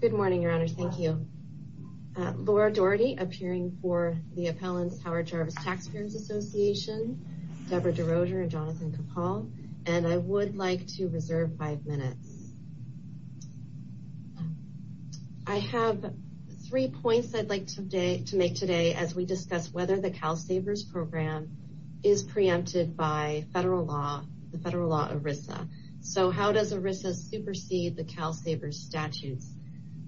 Good morning, Your Honor. Thank you. Laura Doherty, appearing for the appellants Howard Jarvis Taxpayers Association, Debra DeRoger and Jonathan Capal, and I would like to reserve five minutes. I have three points I'd like to make today as we discuss whether the CalSAVERS program is preempted by federal law, the federal law ERISA. So how does ERISA supersede the CalSAVERS statutes?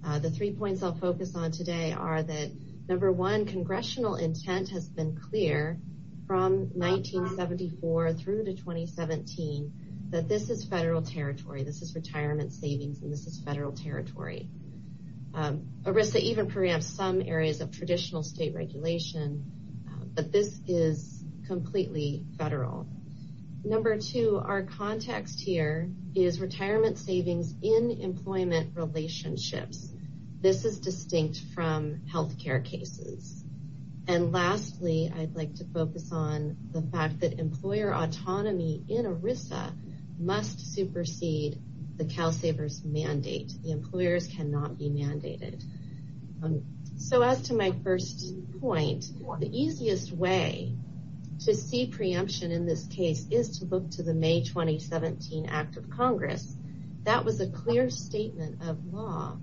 The three points I'll focus on today are that, number one, congressional intent has been clear from 1974 through to 2017 that this is federal territory. This is retirement savings and this is federal territory. ERISA even preempts some areas of traditional state regulation, but this is completely federal. Number two, our context here is retirement savings in employment relationships. This is distinct from health care cases. And lastly, I'd like to focus on the fact that employer autonomy in ERISA must supersede the CalSAVERS mandate. The employers cannot be mandated. So as to my first point, the easiest way to see preemption in this case is to look to the May 2017 Act of Law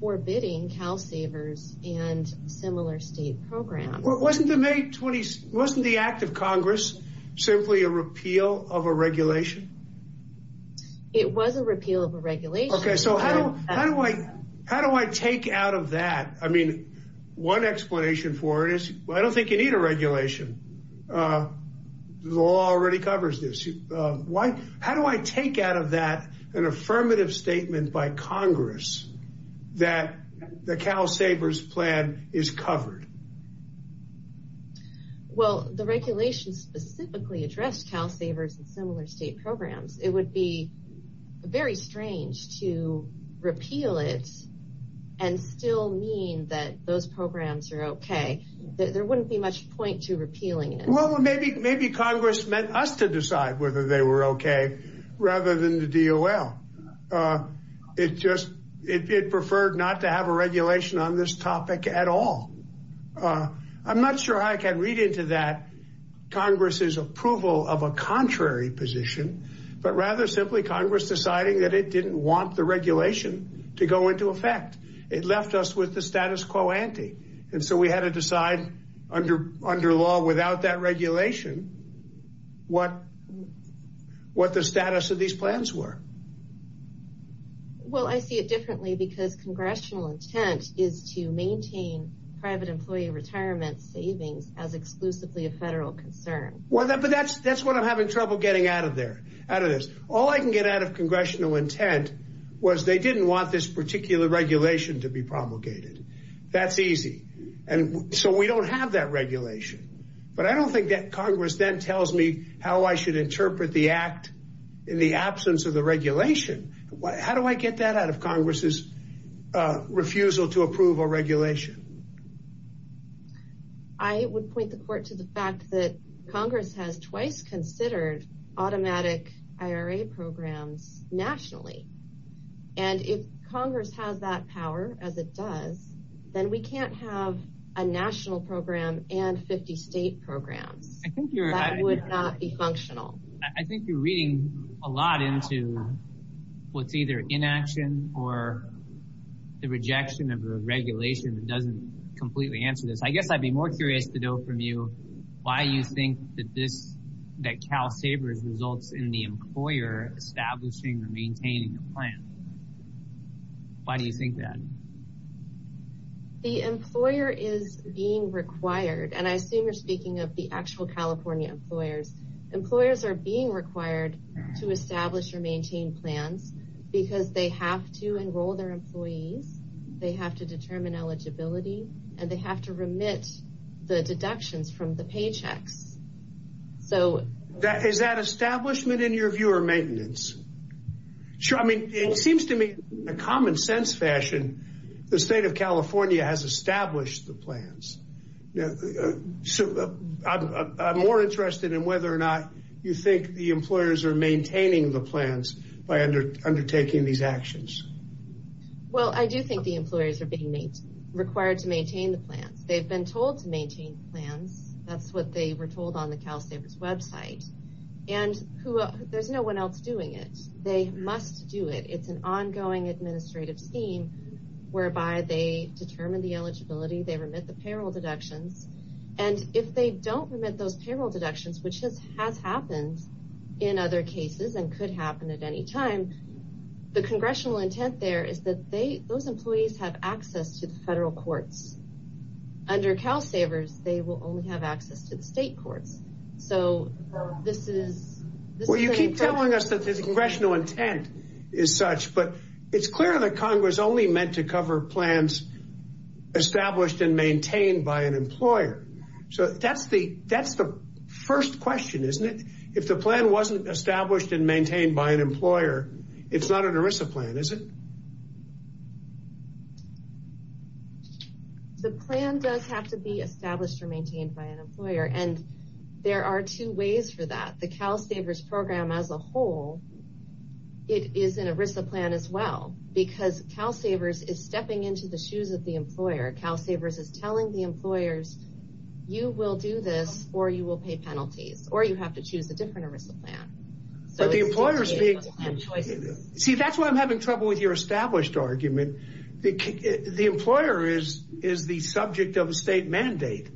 forbidding CalSAVERS and similar state programs. Wasn't the Act of Congress simply a repeal of a regulation? It was a repeal of a regulation. Okay, so how do I take out of that? I mean, one explanation for it is, I don't think you need a regulation. The law already covers this. How do I tell Congress that the CalSAVERS plan is covered? Well, the regulation specifically addressed CalSAVERS and similar state programs. It would be very strange to repeal it and still mean that those programs are okay. There wouldn't be much point to repealing it. Well, maybe Congress meant us to decide whether they were okay rather than the DOL. It just, it preferred not to have a regulation on this topic at all. I'm not sure I can read into that Congress's approval of a contrary position, but rather simply Congress deciding that it didn't want the regulation to go into effect. It left us with the status quo ante. And so we had to decide under law, without that regulation, what the status of these plans were. Well, I see it differently because congressional intent is to maintain private employee retirement savings as exclusively a federal concern. Well, that's what I'm having trouble getting out of there, out of this. All I can get out of congressional intent was they didn't want this particular regulation to be promulgated. That's easy. And so we don't have that regulation. But I don't think that Congress then tells me how I should interpret the act in the absence of the regulation. How do I get that out of Congress's refusal to approve a regulation? I would point the court to the fact that Congress has twice considered automatic IRA programs nationally. And if Congress has that power, as it does, then we can't have a national program and 50 state programs. I think that would not be functional. I think you're reading a lot into what's either inaction or the rejection of the regulation that doesn't completely answer this. I guess I'd be more curious to know from you why you think that this, that CalSABERS results in the maintaining the plan. Why do you think that? The employer is being required. And I assume you're speaking of the actual California employers. Employers are being required to establish or maintain plans because they have to enroll their employees. They have to determine eligibility and they have to remit the deductions from the paychecks. So is that establishment in your view or maintenance? Sure. I mean, it seems to me, in a common sense fashion, the state of California has established the plans. So I'm more interested in whether or not you think the employers are maintaining the plans by undertaking these actions. Well, I do think the employers are being required to maintain the plans. They've been told to maintain plans. That's what they were told on the CalSABERS website. And there's no one else doing it. They must do it. It's an ongoing administrative scheme whereby they determine the eligibility, they remit the payroll deductions. And if they don't remit those payroll deductions, which has happened in other cases and could happen at any time, the congressional intent there is that those employees have access to the federal courts. Under CalSABERS, they will only have access to the state courts. So this is... Well, you keep telling us that the congressional intent is such, but it's clear that Congress only meant to cover plans established and maintained by an employer. So that's the first question, isn't it? If the plan wasn't established and maintained by an employer, it's not an ERISA plan, is it? The plan does have to be established or maintained by an employer. And there are two ways for that. The CalSABERS program as a whole, it is an ERISA plan as well, because CalSABERS is stepping into the shoes of the employer. CalSABERS is telling the employers, you will do this, or you will pay penalties, or you have to choose a different ERISA plan. But the employer is being... See, that's why I'm having trouble with your established argument. The employer is the subject of a state mandate.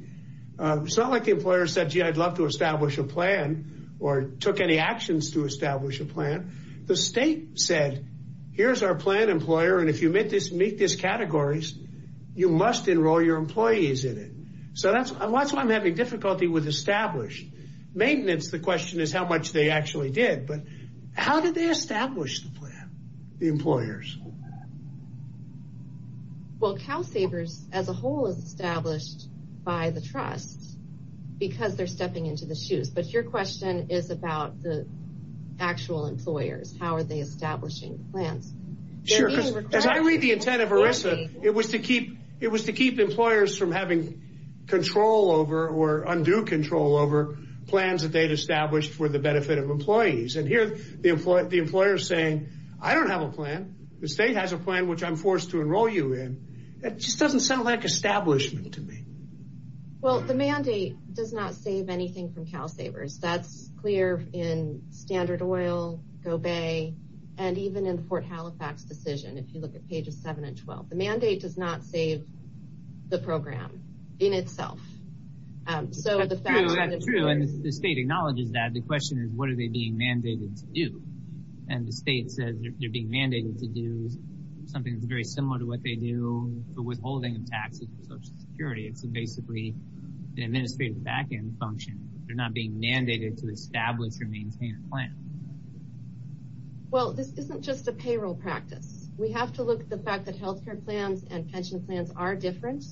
It's not like the employer said, gee, I'd love to establish a plan, or took any actions to establish a plan. The state said, here's our plan, employer, and if you meet this categories, you must enroll your employees in it. So that's why I'm having difficulty with established. Maintenance, the question is how much they actually did, but how did they establish the plan, the employers? Well, CalSABERS as a whole is established by the trust, because they're stepping into the shoes. But your question is about the actual employers, how are they establishing plans? Sure, because as I read the intent of ERISA, it was to keep employers from having control over, or undue control over, plans that they'd established for the benefit of employees. And here, the employer is saying, I don't have a plan. The state has a plan, which I'm forced to enroll you in. That just doesn't sound like establishment to me. Well, the mandate does not save anything from CalSABERS. That's clear in Standard Oil, GoBay, and even in the Fort Halifax decision, if you look at pages 7 and 12. The mandate does not save the program in itself. So the fact that it's true, and the state acknowledges that, the question is what are they being mandated to do? And the state says they're being mandated to do something that's very similar to what they do for withholding of taxes for Social Security. It's basically an administrative back-end function. They're not being mandated to establish or maintain a plan. Well, this isn't just a payroll practice. We have to look at the fact that health care plans and pension plans are different.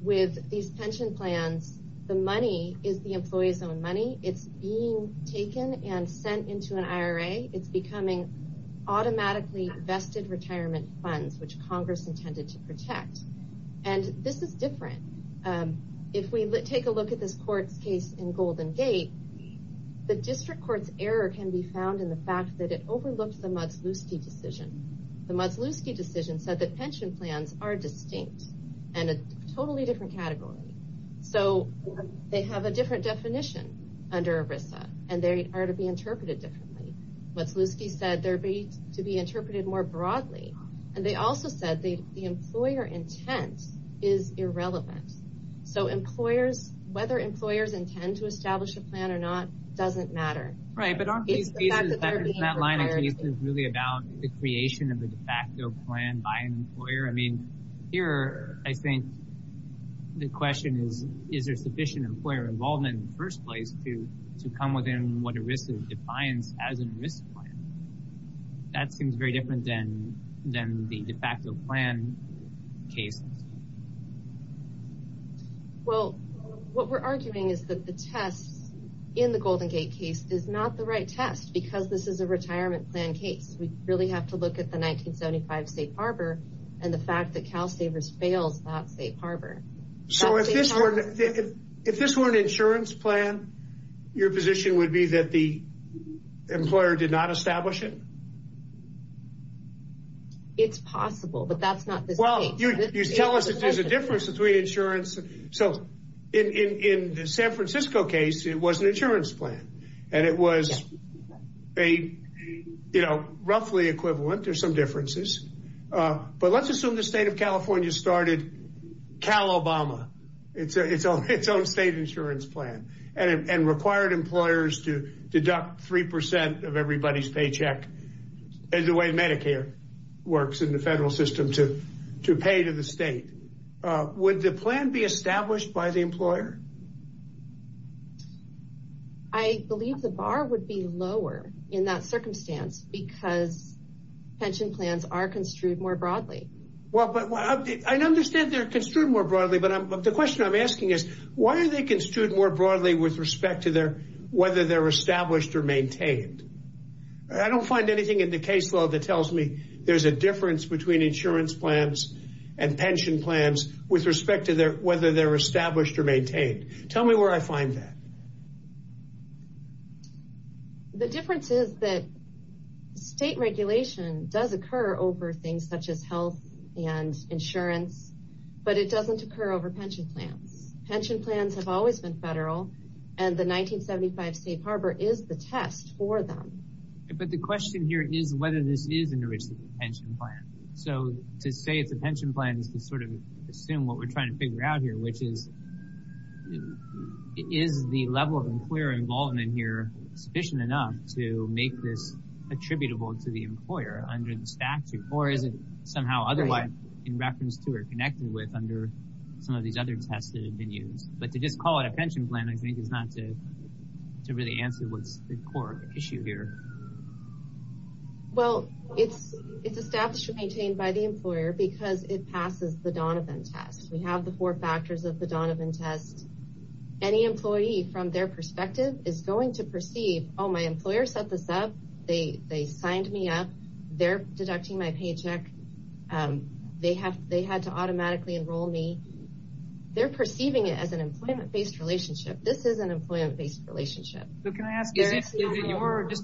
With these pension plans, the money is the employee's own money. It's being taken and sent into an IRA. It's becoming automatically vested retirement funds, which Congress intended to protect. And this is different. If we take a look at this court's case in Golden Gate, the district court's error can be found in the fact that it overlooked the Modsluski decision, said that pension plans are distinct and a totally different category. So they have a different definition under ERISA, and they are to be interpreted differently. Modsluski said they're to be interpreted more broadly. And they also said the employer intent is irrelevant. So employers, whether employers intend to establish a plan or not, doesn't matter. Right, but on these cases, that line of case is really about the creation of the de facto plan by an employer. I mean, here, I think the question is, is there sufficient employer involvement in the first place to come within what ERISA defines as an ERISA plan? That seems very different than the de facto plan case. Well, what we're arguing is that the test in the Golden Gate case is not the right test, because this is a retirement plan case. We really have to look at the 1975 Safe Harbor and the fact that CalSAVERS fails that Safe Harbor. So if this were an insurance plan, your position would be that the employer did not establish it? It's possible, but that's not the case. Well, you tell us there's a difference between insurance. So in the San Francisco case, it was an insurance plan, and it was a, you know, roughly equivalent. There's some differences. But let's assume the state of California started CalObama, its own state insurance plan, and required employers to deduct three percent of everybody's paycheck, as the way Medicare works in the federal system, to pay to the state. Would the plan be established by the employer? I believe the bar would be lower in that circumstance because pension plans are construed more broadly. Well, but I understand they're construed more broadly, but the question I'm asking is, why are they construed more broadly with respect to whether they're established or maintained? I don't find anything in the case law that tells me there's a difference between insurance plans and pension plans with respect to whether they're established or maintained. Tell me where I find that. The difference is that state regulation does occur over things such as health and insurance, but it doesn't occur over pension plans. Pension plans have always been federal, and the 1975 safe harbor is the test for them. But the question here is whether this is an enriched pension plan. So to say it's a pension plan is to sort of assume what we're trying to figure out here, which is, is the level of employer involvement here sufficient enough to make this attributable to the employer under the statute, or is it somehow otherwise in reference to or connected with under some of these other tests that have been used? But to just call it a pension plan, I think, is not to really answer what's the core issue here. Well, it's established or maintained by the employer because it passes the Donovan test. We have the four factors of the Donovan test. Any employee, from their perspective, is going to perceive, oh, my employer set this up, they signed me up, they're deducting my paycheck, they had to automatically enroll me. They're perceiving it as an employment based relationship. This is an employment based relationship. So can I ask, just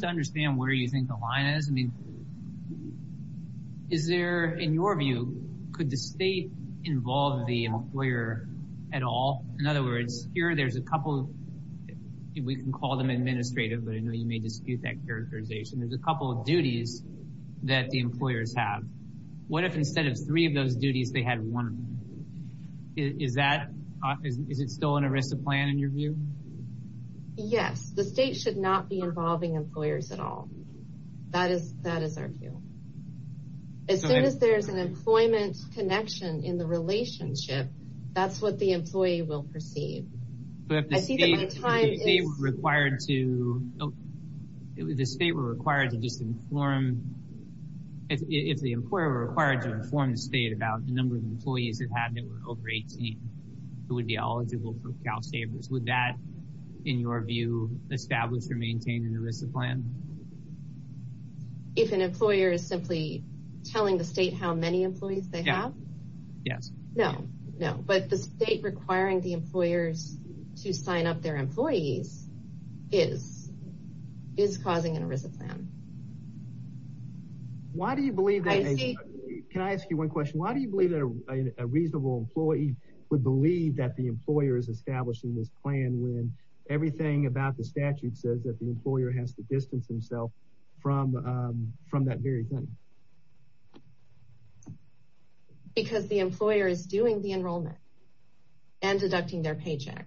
to understand where you think the line is, I mean, is there, in your view, could the state involve the employer at all? In other words, here there's a couple, we can call them administrative, but I know you may dispute that characterization, there's a couple of duties that the employers have. What if instead of three of those duties, they had one? Is that, is it still an arrested plan in your view? Yes, the state should not be involving employers at all. That is, that is our view. As soon as there's an employment connection in the relationship, that's what the employee will perceive. But if the state were required to, if the state were required to just inform, if the employer were required to inform the state about the number of employees that have been over 18 who would be eligible for CalSAVERS, would that, in your view, establish or maintain an ERISA plan? If an employer is simply telling the state how many employees they have? Yes. No, no. But the state requiring the employers to sign up their employees is, is causing an ERISA plan. Why do you believe that? Can I ask you one question? Why do you believe that a reasonable employee would believe that the employer is establishing this plan when everything about the statute says that the employer has to distance himself from, from that very thing? Because the employer is doing the enrollment and deducting their paycheck.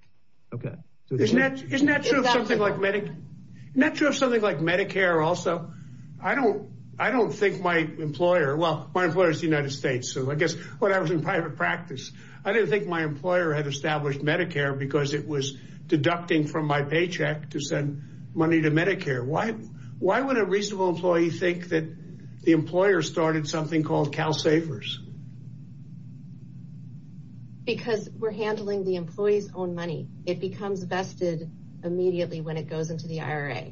Okay. Isn't that, isn't that true of something like medic, isn't that true of something like Medicare also? I don't, I don't think my employer, well, my employer is the United States, so I guess when I was in private practice, I didn't think my employer had established Medicare because it was deducting from my paycheck to send money to Medicare. Why, why would a reasonable employee think that the employer started something called CALSAVERS? Because we're handling the employee's own money. It becomes vested immediately when it goes into the IRA.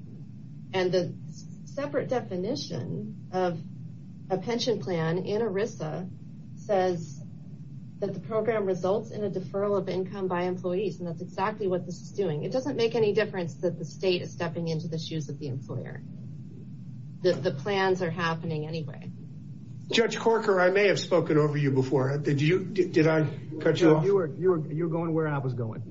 And the separate definition of a pension plan in ERISA says that the program results in a deferral of income by employees. And that's exactly what this is doing. It doesn't make any difference that the state is stepping into the shoes of the employer, that the plans are happening anyway. Judge Corker, I may have spoken over you before. Did you, did I cut you off? You were, you were, you were going where I was going.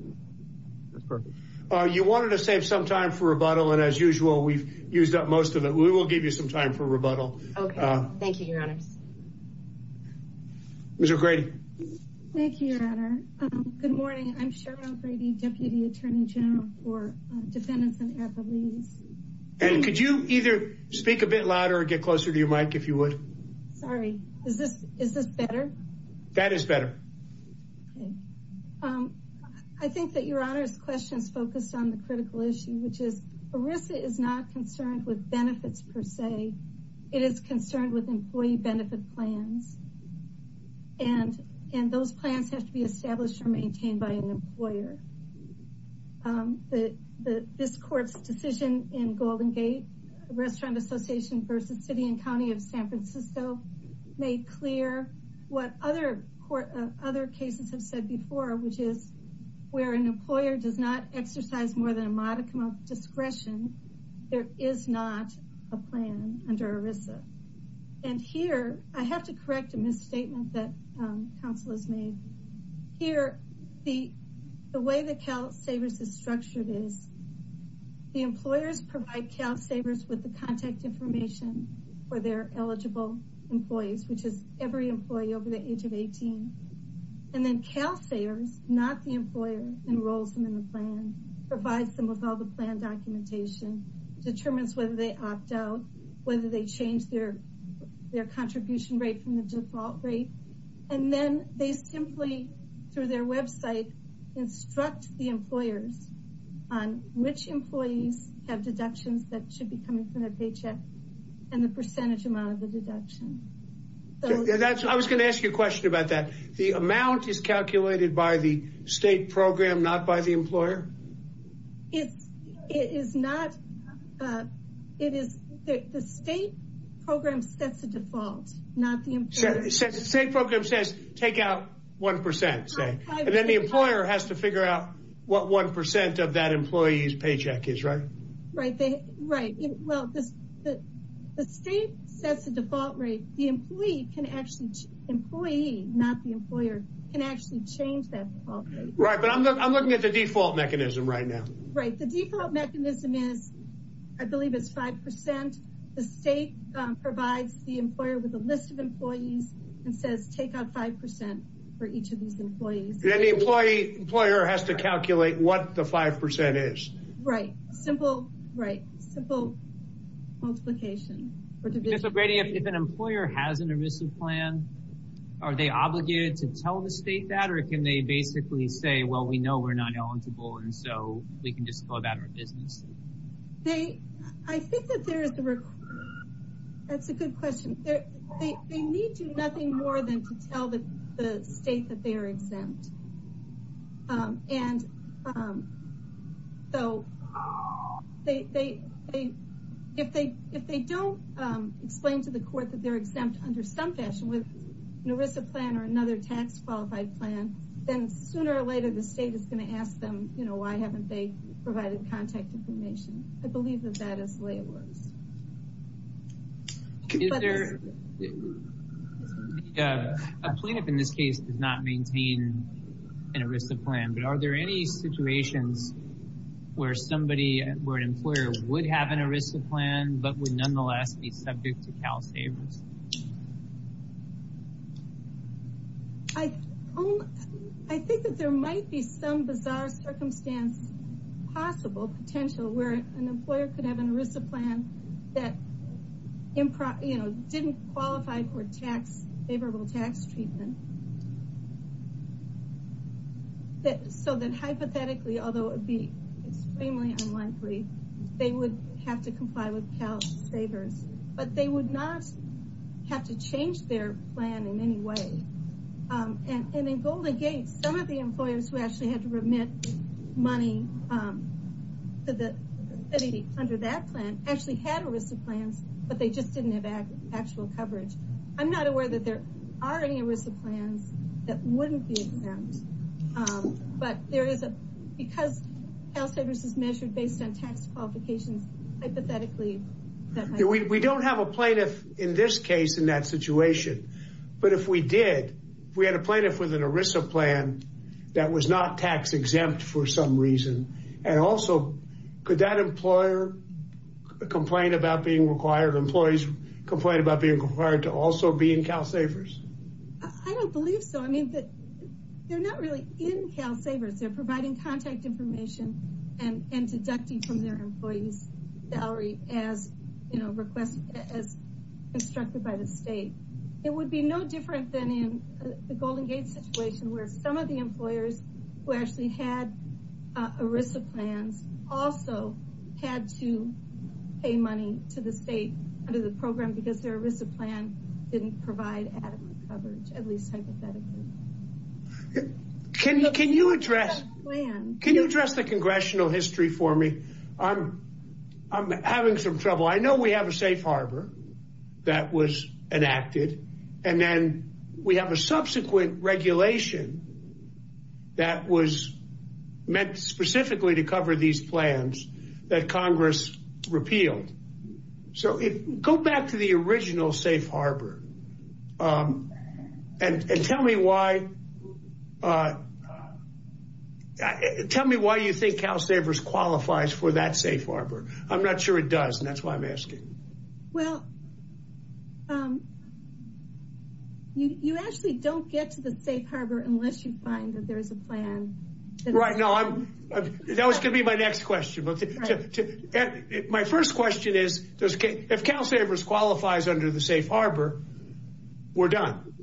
That's perfect. Uh, you wanted to save some time for rebuttal. And as usual, we've used up most of it. We will give you some time for rebuttal. Okay. Thank you, your honors. Mr. Grady. Thank you, your honor. Um, good morning. I'm Cheryl Grady, deputy attorney general for, uh, defendants and affidavits. And could you either speak a bit louder or get closer to your mic if you would? Sorry. Is this, is this better? That is better. Okay. Um, I think that your honor's question is focused on the critical issue, which is ERISA is not concerned with benefits per se. It is concerned with employee benefit plans. And, and those plans have to be established or maintained by an employer. Um, the, the, this court's decision in Golden Gate restaurant association versus city and county of San Francisco made clear what other court, uh, other cases have said before, which is where an employer does not exercise more than a modicum of discretion, there is not a plan under ERISA. And here I have to correct a misstatement that, um, counsel has made here. The, the way the CalSAVERS is structured is the employers provide CalSAVERS with the contact information for their eligible employees, which is every employee over the age of 18, and then CalSAVERS, not the employer enrolls them in the plan, provides them with all the plan documentation, determines whether they opt out, whether they change their, their contribution rate from the default rate. And then they simply, through their website, instruct the employers on which employees have deductions that should be coming from their paycheck and the percentage amount of the deduction. That's, I was going to ask you a question about that. The amount is calculated by the state program, not by the employer? It's, it is not, uh, it is, the state program sets a default, not the employer. So the state program says take out 1%, say, and then the employer has to figure out what 1% of that employee's paycheck is, right? Right. They, right. Well, the state sets a default rate. The employee can actually, employee, not the employer, can actually change that. Right. But I'm, I'm looking at the default mechanism right now. Right. The default mechanism is, I believe it's 5%. The state provides the employer with a list of employees and says, take out 5% for each of these employees. And the employee, employer has to calculate what the 5% is. Right. Simple, right. Simple multiplication. But if an employer has an emissive plan, are they obligated to tell the state that, or can they basically say, well, we know we're not eligible. And so we can just go about our business. They, I think that there is the requirement. That's a good question. There, they, they need to nothing more than to tell the state that they are exempt. Um, and, um, so they, they, they, if they, if they don't, um, explain to the court that they're exempt under some fashion with an ERISA plan or another tax qualified plan, then sooner or later, the state is going to ask them, you know, why haven't they provided contact information? I believe that that is the way it works. Is there a, a, a plaintiff in this case does not maintain an ERISA plan, but are there any situations where somebody, where an employer would have an ERISA plan, but would nonetheless be subject to CalSAVERS? I, I think that there might be some bizarre circumstance, possible potential where an employer could have an ERISA plan that, you know, didn't qualify for tax, favorable tax treatment, that, so that hypothetically, although it would be extremely unlikely, they would have to comply with CalSAVERS, but they would not be subject to CalSAVERS. Have to change their plan in any way. Um, and, and in Golden Gate, some of the employers who actually had to remit money, um, to the city under that plan actually had ERISA plans, but they just didn't have actual coverage. I'm not aware that there are any ERISA plans that wouldn't be exempt. Um, but there is a, because CalSAVERS is measured based on tax qualifications, hypothetically, that might be true. We don't have a plaintiff in this case in that situation, but if we did, if we had a plaintiff with an ERISA plan that was not tax exempt for some reason, and also could that employer complain about being required, employees complain about being required to also be in CalSAVERS? I don't believe so. I mean, they're not really in CalSAVERS. They're providing contact information and deducting from their employees. Salary as, you know, requested, as instructed by the state. It would be no different than in the Golden Gate situation where some of the employers who actually had ERISA plans also had to pay money to the state under the program because their ERISA plan didn't provide adequate coverage, at least hypothetically. Can you, can you address, can you address the congressional history for me? I'm, I'm having some trouble. I know we have a safe harbor that was enacted and then we have a subsequent regulation that was meant specifically to cover these plans that Congress repealed. So go back to the original safe harbor and tell me why, tell me why you think CalSAVERS qualifies for that safe harbor. I'm not sure it does. And that's why I'm asking. Well, you actually don't get to the safe harbor unless you find that there is a plan. Right now, I'm, that was going to be my next question. My first question is, if CalSAVERS qualifies under the safe harbor, we're done.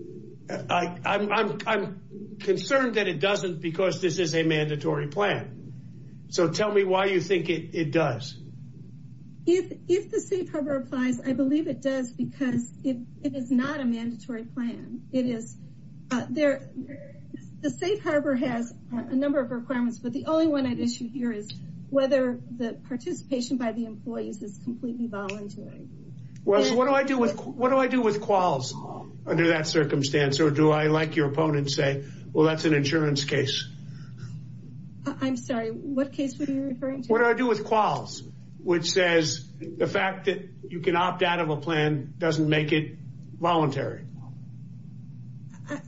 I'm concerned that it doesn't because this is a mandatory plan. So tell me why you think it does. If, if the safe harbor applies, I believe it does because it is not a mandatory plan. It is, there, the safe harbor has a number of requirements, but the only one I'd issue here is whether the participation by the employees is completely voluntary. Well, what do I do with, what do I do with quals under that circumstance? Or do I, like your opponent say, well, that's an insurance case. I'm sorry. What case were you referring to? What do I do with quals, which says the fact that you can opt out of a plan doesn't make it voluntary.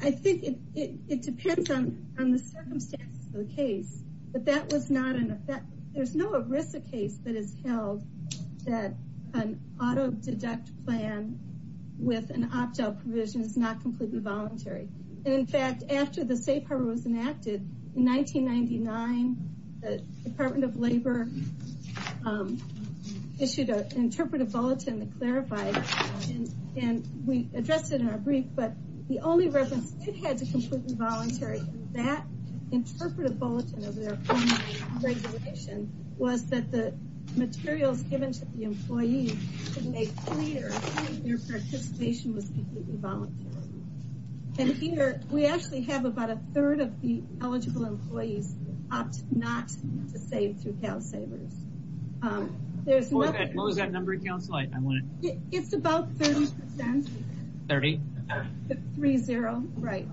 I think it, it, it depends on, on the circumstances of the case, but that was not an effect. There's no ERISA case that is held that an auto deduct plan with an opt out provision is not completely voluntary. And in fact, after the safe harbor was enacted in 1999, the Department of Labor issued an interpretive bulletin that clarified, and we addressed it in our brief, but the only reference it had to completely voluntary, that interpretive bulletin of their own regulation was that the materials given to the employee to make clear their participation was completely voluntary. And here, we actually have about a third of the eligible employees opt not to save through CalSAVERS. There's no, what was that number, counsel? I, I want to, it's about 30 percent, 30, 3-0, right.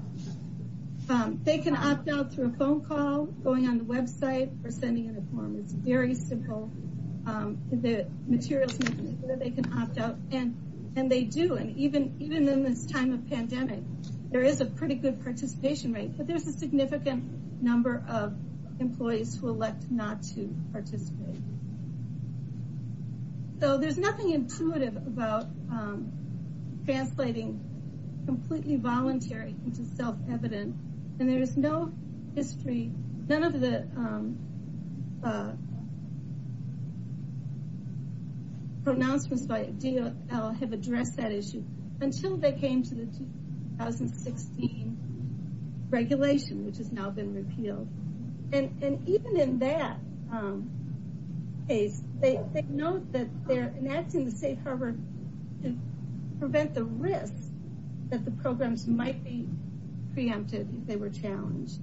They can opt out through a phone call, going on the website, or sending in a form. It's very simple. The materials make it so that they can opt out. And, and they do. And even, even in this time of pandemic, there is a pretty good participation rate, but there's a significant number of employees who elect not to participate. So there's nothing intuitive about translating completely voluntary into self-evident, and there is no history. None of the pronouncements by DOL have addressed that issue until they came to the 2016 regulation, which has now been repealed. And, and even in that case, they, they note that they're enacting the safe harbor to prevent the risk that the programs might be preempted if they were challenged.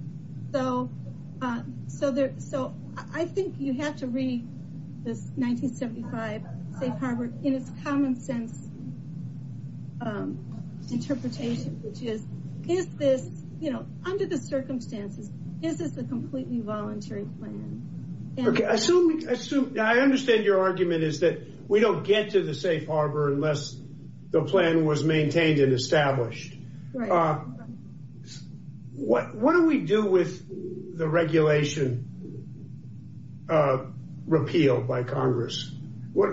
So, so there, so I think you have to read this 1975 safe harbor in its common sense interpretation, which is, is this, you know, under the circumstances, is this a completely voluntary plan? Okay, I assume, I assume, I understand your argument is that we don't get to the safe harbor unless the plan was maintained and established. What, what do we do with the regulation repealed by Congress? What,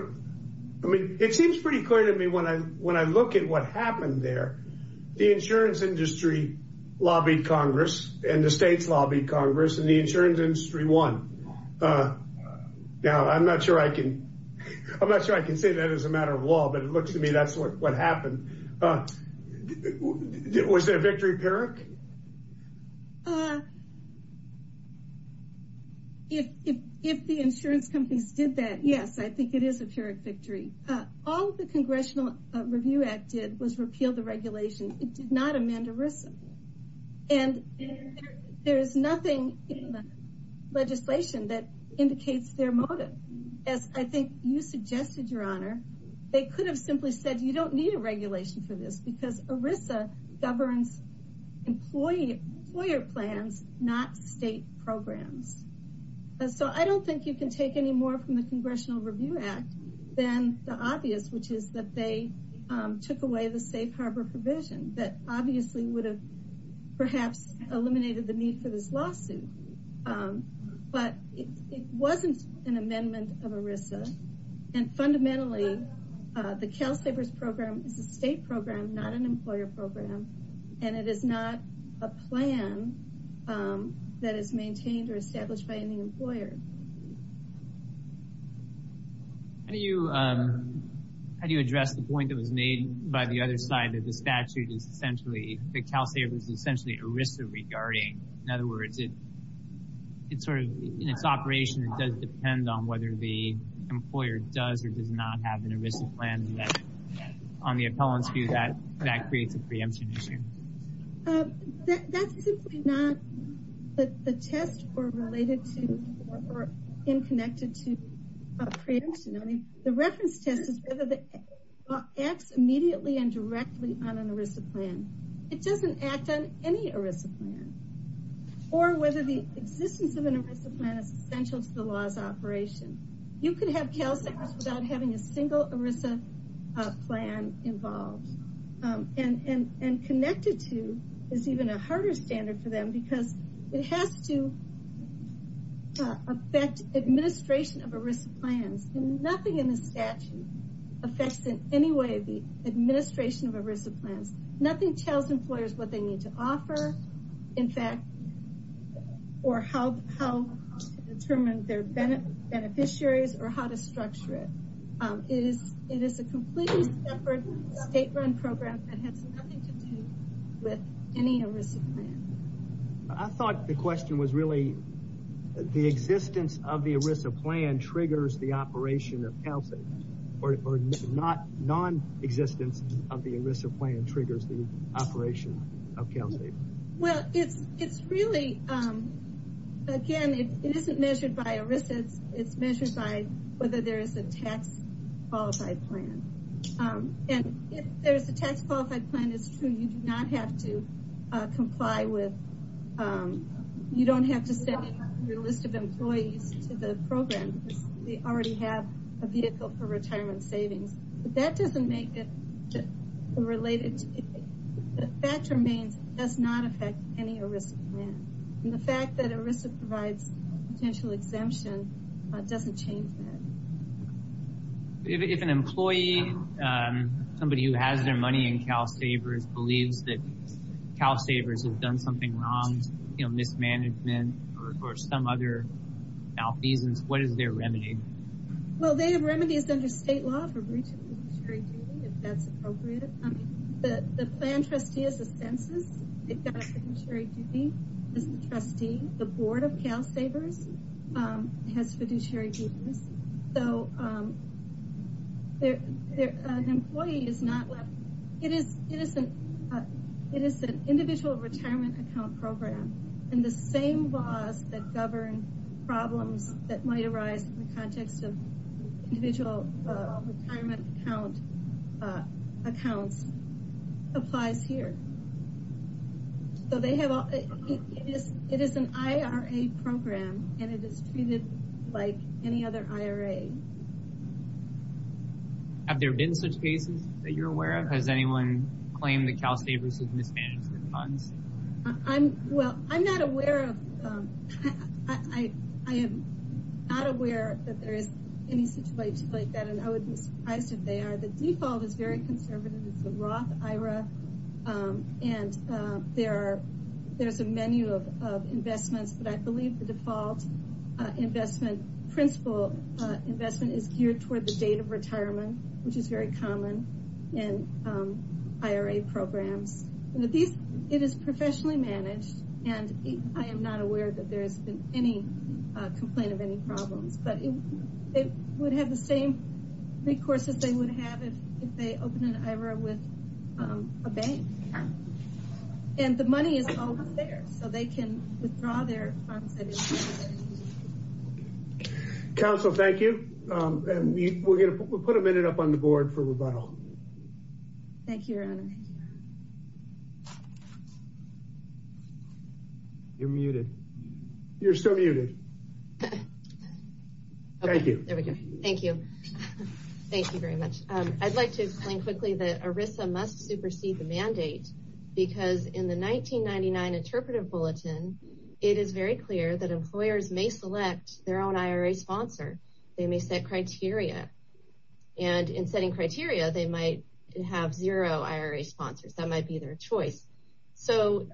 I mean, it seems pretty clear to me when I, when I look at what happened there, the insurance industry lobbied Congress and the states lobbied Congress and the insurance industry won. Now, I'm not sure I can, I'm not sure I can say that as a matter of law, but it looks to me that's what, what happened. Uh, was that a victory of PERIC? Uh, if, if, if the insurance companies did that, yes, I think it is a PERIC victory. All the Congressional Review Act did was repeal the regulation. It did not amend ERISA and there's nothing in the legislation that indicates their motive. As I think you suggested, your honor, they could have simply said, you don't need a regulation for this because ERISA governs employee, employer plans, not state programs. So I don't think you can take any more from the Congressional Review Act than the obvious, which is that they took away the safe harbor provision that obviously would have perhaps eliminated the need for this lawsuit. Um, but it, it wasn't an amendment of ERISA and fundamentally, uh, the CalSAVERS program is a state program, not an employer program. And it is not a plan, um, that is maintained or established by any employer. How do you, um, how do you address the point that was made by the other side that the statute is essentially, the CalSAVERS is essentially ERISA regarding. In other words, it, it sort of, in its operation, it does depend on whether the on the appellant's view that, that creates a preemption issue. Um, that, that's simply not the, the test or related to or, or in connected to preemption. I mean, the reference test is whether the act immediately and directly on an ERISA plan. It doesn't act on any ERISA plan or whether the existence of an ERISA plan is essential to the law's operation. You could have CalSAVERS without having a single ERISA, uh, plan involved. Um, and, and, and connected to is even a harder standard for them because it has to, uh, affect administration of ERISA plans and nothing in the statute affects in any way the administration of ERISA plans. Nothing tells employers what they need to offer. In fact, or how, how to determine their beneficiaries or how to structure it. It is, it is a completely separate state run program that has nothing to do with any ERISA plan. I thought the question was really the existence of the ERISA plan triggers the operation of CalSAVERS or not non-existence of the ERISA plan triggers the operation of CalSAVERS. Well, it's, it's really, um, again, it isn't measured by ERISA. It's measured by whether there is a tax qualified plan. Um, and if there's a tax qualified plan, it's true. You do not have to comply with, um, you don't have to send your list of employees to the program because they already have a vehicle for retirement savings, but that does not affect any ERISA plan. And the fact that ERISA provides potential exemption, uh, doesn't change that. If an employee, um, somebody who has their money in CalSAVERS believes that CalSAVERS has done something wrong, you know, mismanagement or, or some other malfeasance, what is their remedy? Well, they have remedies under state law for breach of military duty, if that's appropriate. The plan trustee is a census. They've got a fiduciary duty as the trustee. The board of CalSAVERS, um, has fiduciary duties. So, um, there, there, an employee is not left, it is, it is an, uh, it is an individual retirement account program and the same laws that govern problems that might arise in the applies here. So they have, it is, it is an IRA program and it is treated like any other IRA. Have there been such cases that you're aware of? Has anyone claimed that CalSAVERS has mismanaged their funds? I'm, well, I'm not aware of, um, I, I, I am not aware that there is any situation like that and I would be surprised if they are. The default is very conservative. It's the Roth IRA, um, and, uh, there are, there's a menu of, of investments, but I believe the default, uh, investment principle, uh, investment is geared toward the date of retirement, which is very common in, um, IRA programs. It is professionally managed and I am not aware that there has been any, uh, complaint of any problems. It would have the same recourse as they would have if they open an IRA with, um, a bank and the money is always there so they can withdraw their funds. Counsel, thank you. Um, and we're going to put a minute up on the board for rebuttal. Thank you, your honor. You're muted. You're still muted. Thank you. There we go. Thank you. Thank you very much. Um, I'd like to explain quickly that ERISA must supersede the mandate because in the 1999 interpretive bulletin, it is very clear that employers may select their own IRA sponsor. They may set criteria and in setting criteria, they might have zero IRA sponsors. That might be their choice. So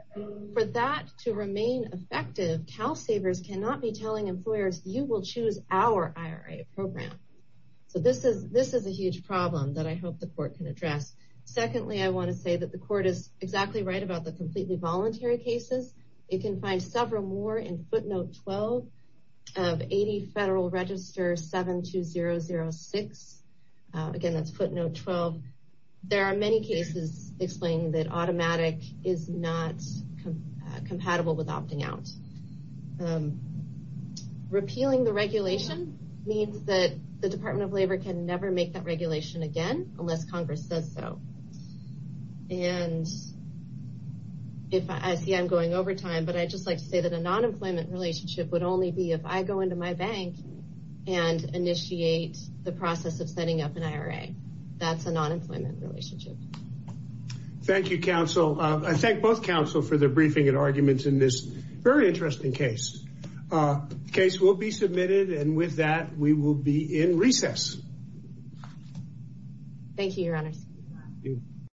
for that to remain effective, CalSAVERS cannot be telling employers, you will choose our IRA program. So this is, this is a huge problem that I hope the court can address. Secondly, I want to say that the court is exactly right about the completely voluntary cases. It can find several more in footnote 12 of 80 Federal Register 72006. Again, that's footnote 12. There are many cases explaining that automatic is not compatible with opting out. Repealing the regulation means that the Department of Labor can never make that regulation again unless Congress says so. And if I see I'm going over time, but I just like to say that a nonemployment relationship would only be if I go into my bank and initiate the process of setting up an IRA. That's a nonemployment relationship. Thank you, counsel. I thank both counsel for their briefing and arguments in this very interesting case. The case will be submitted and with that, we will be in recess. Thank you, Your Honors.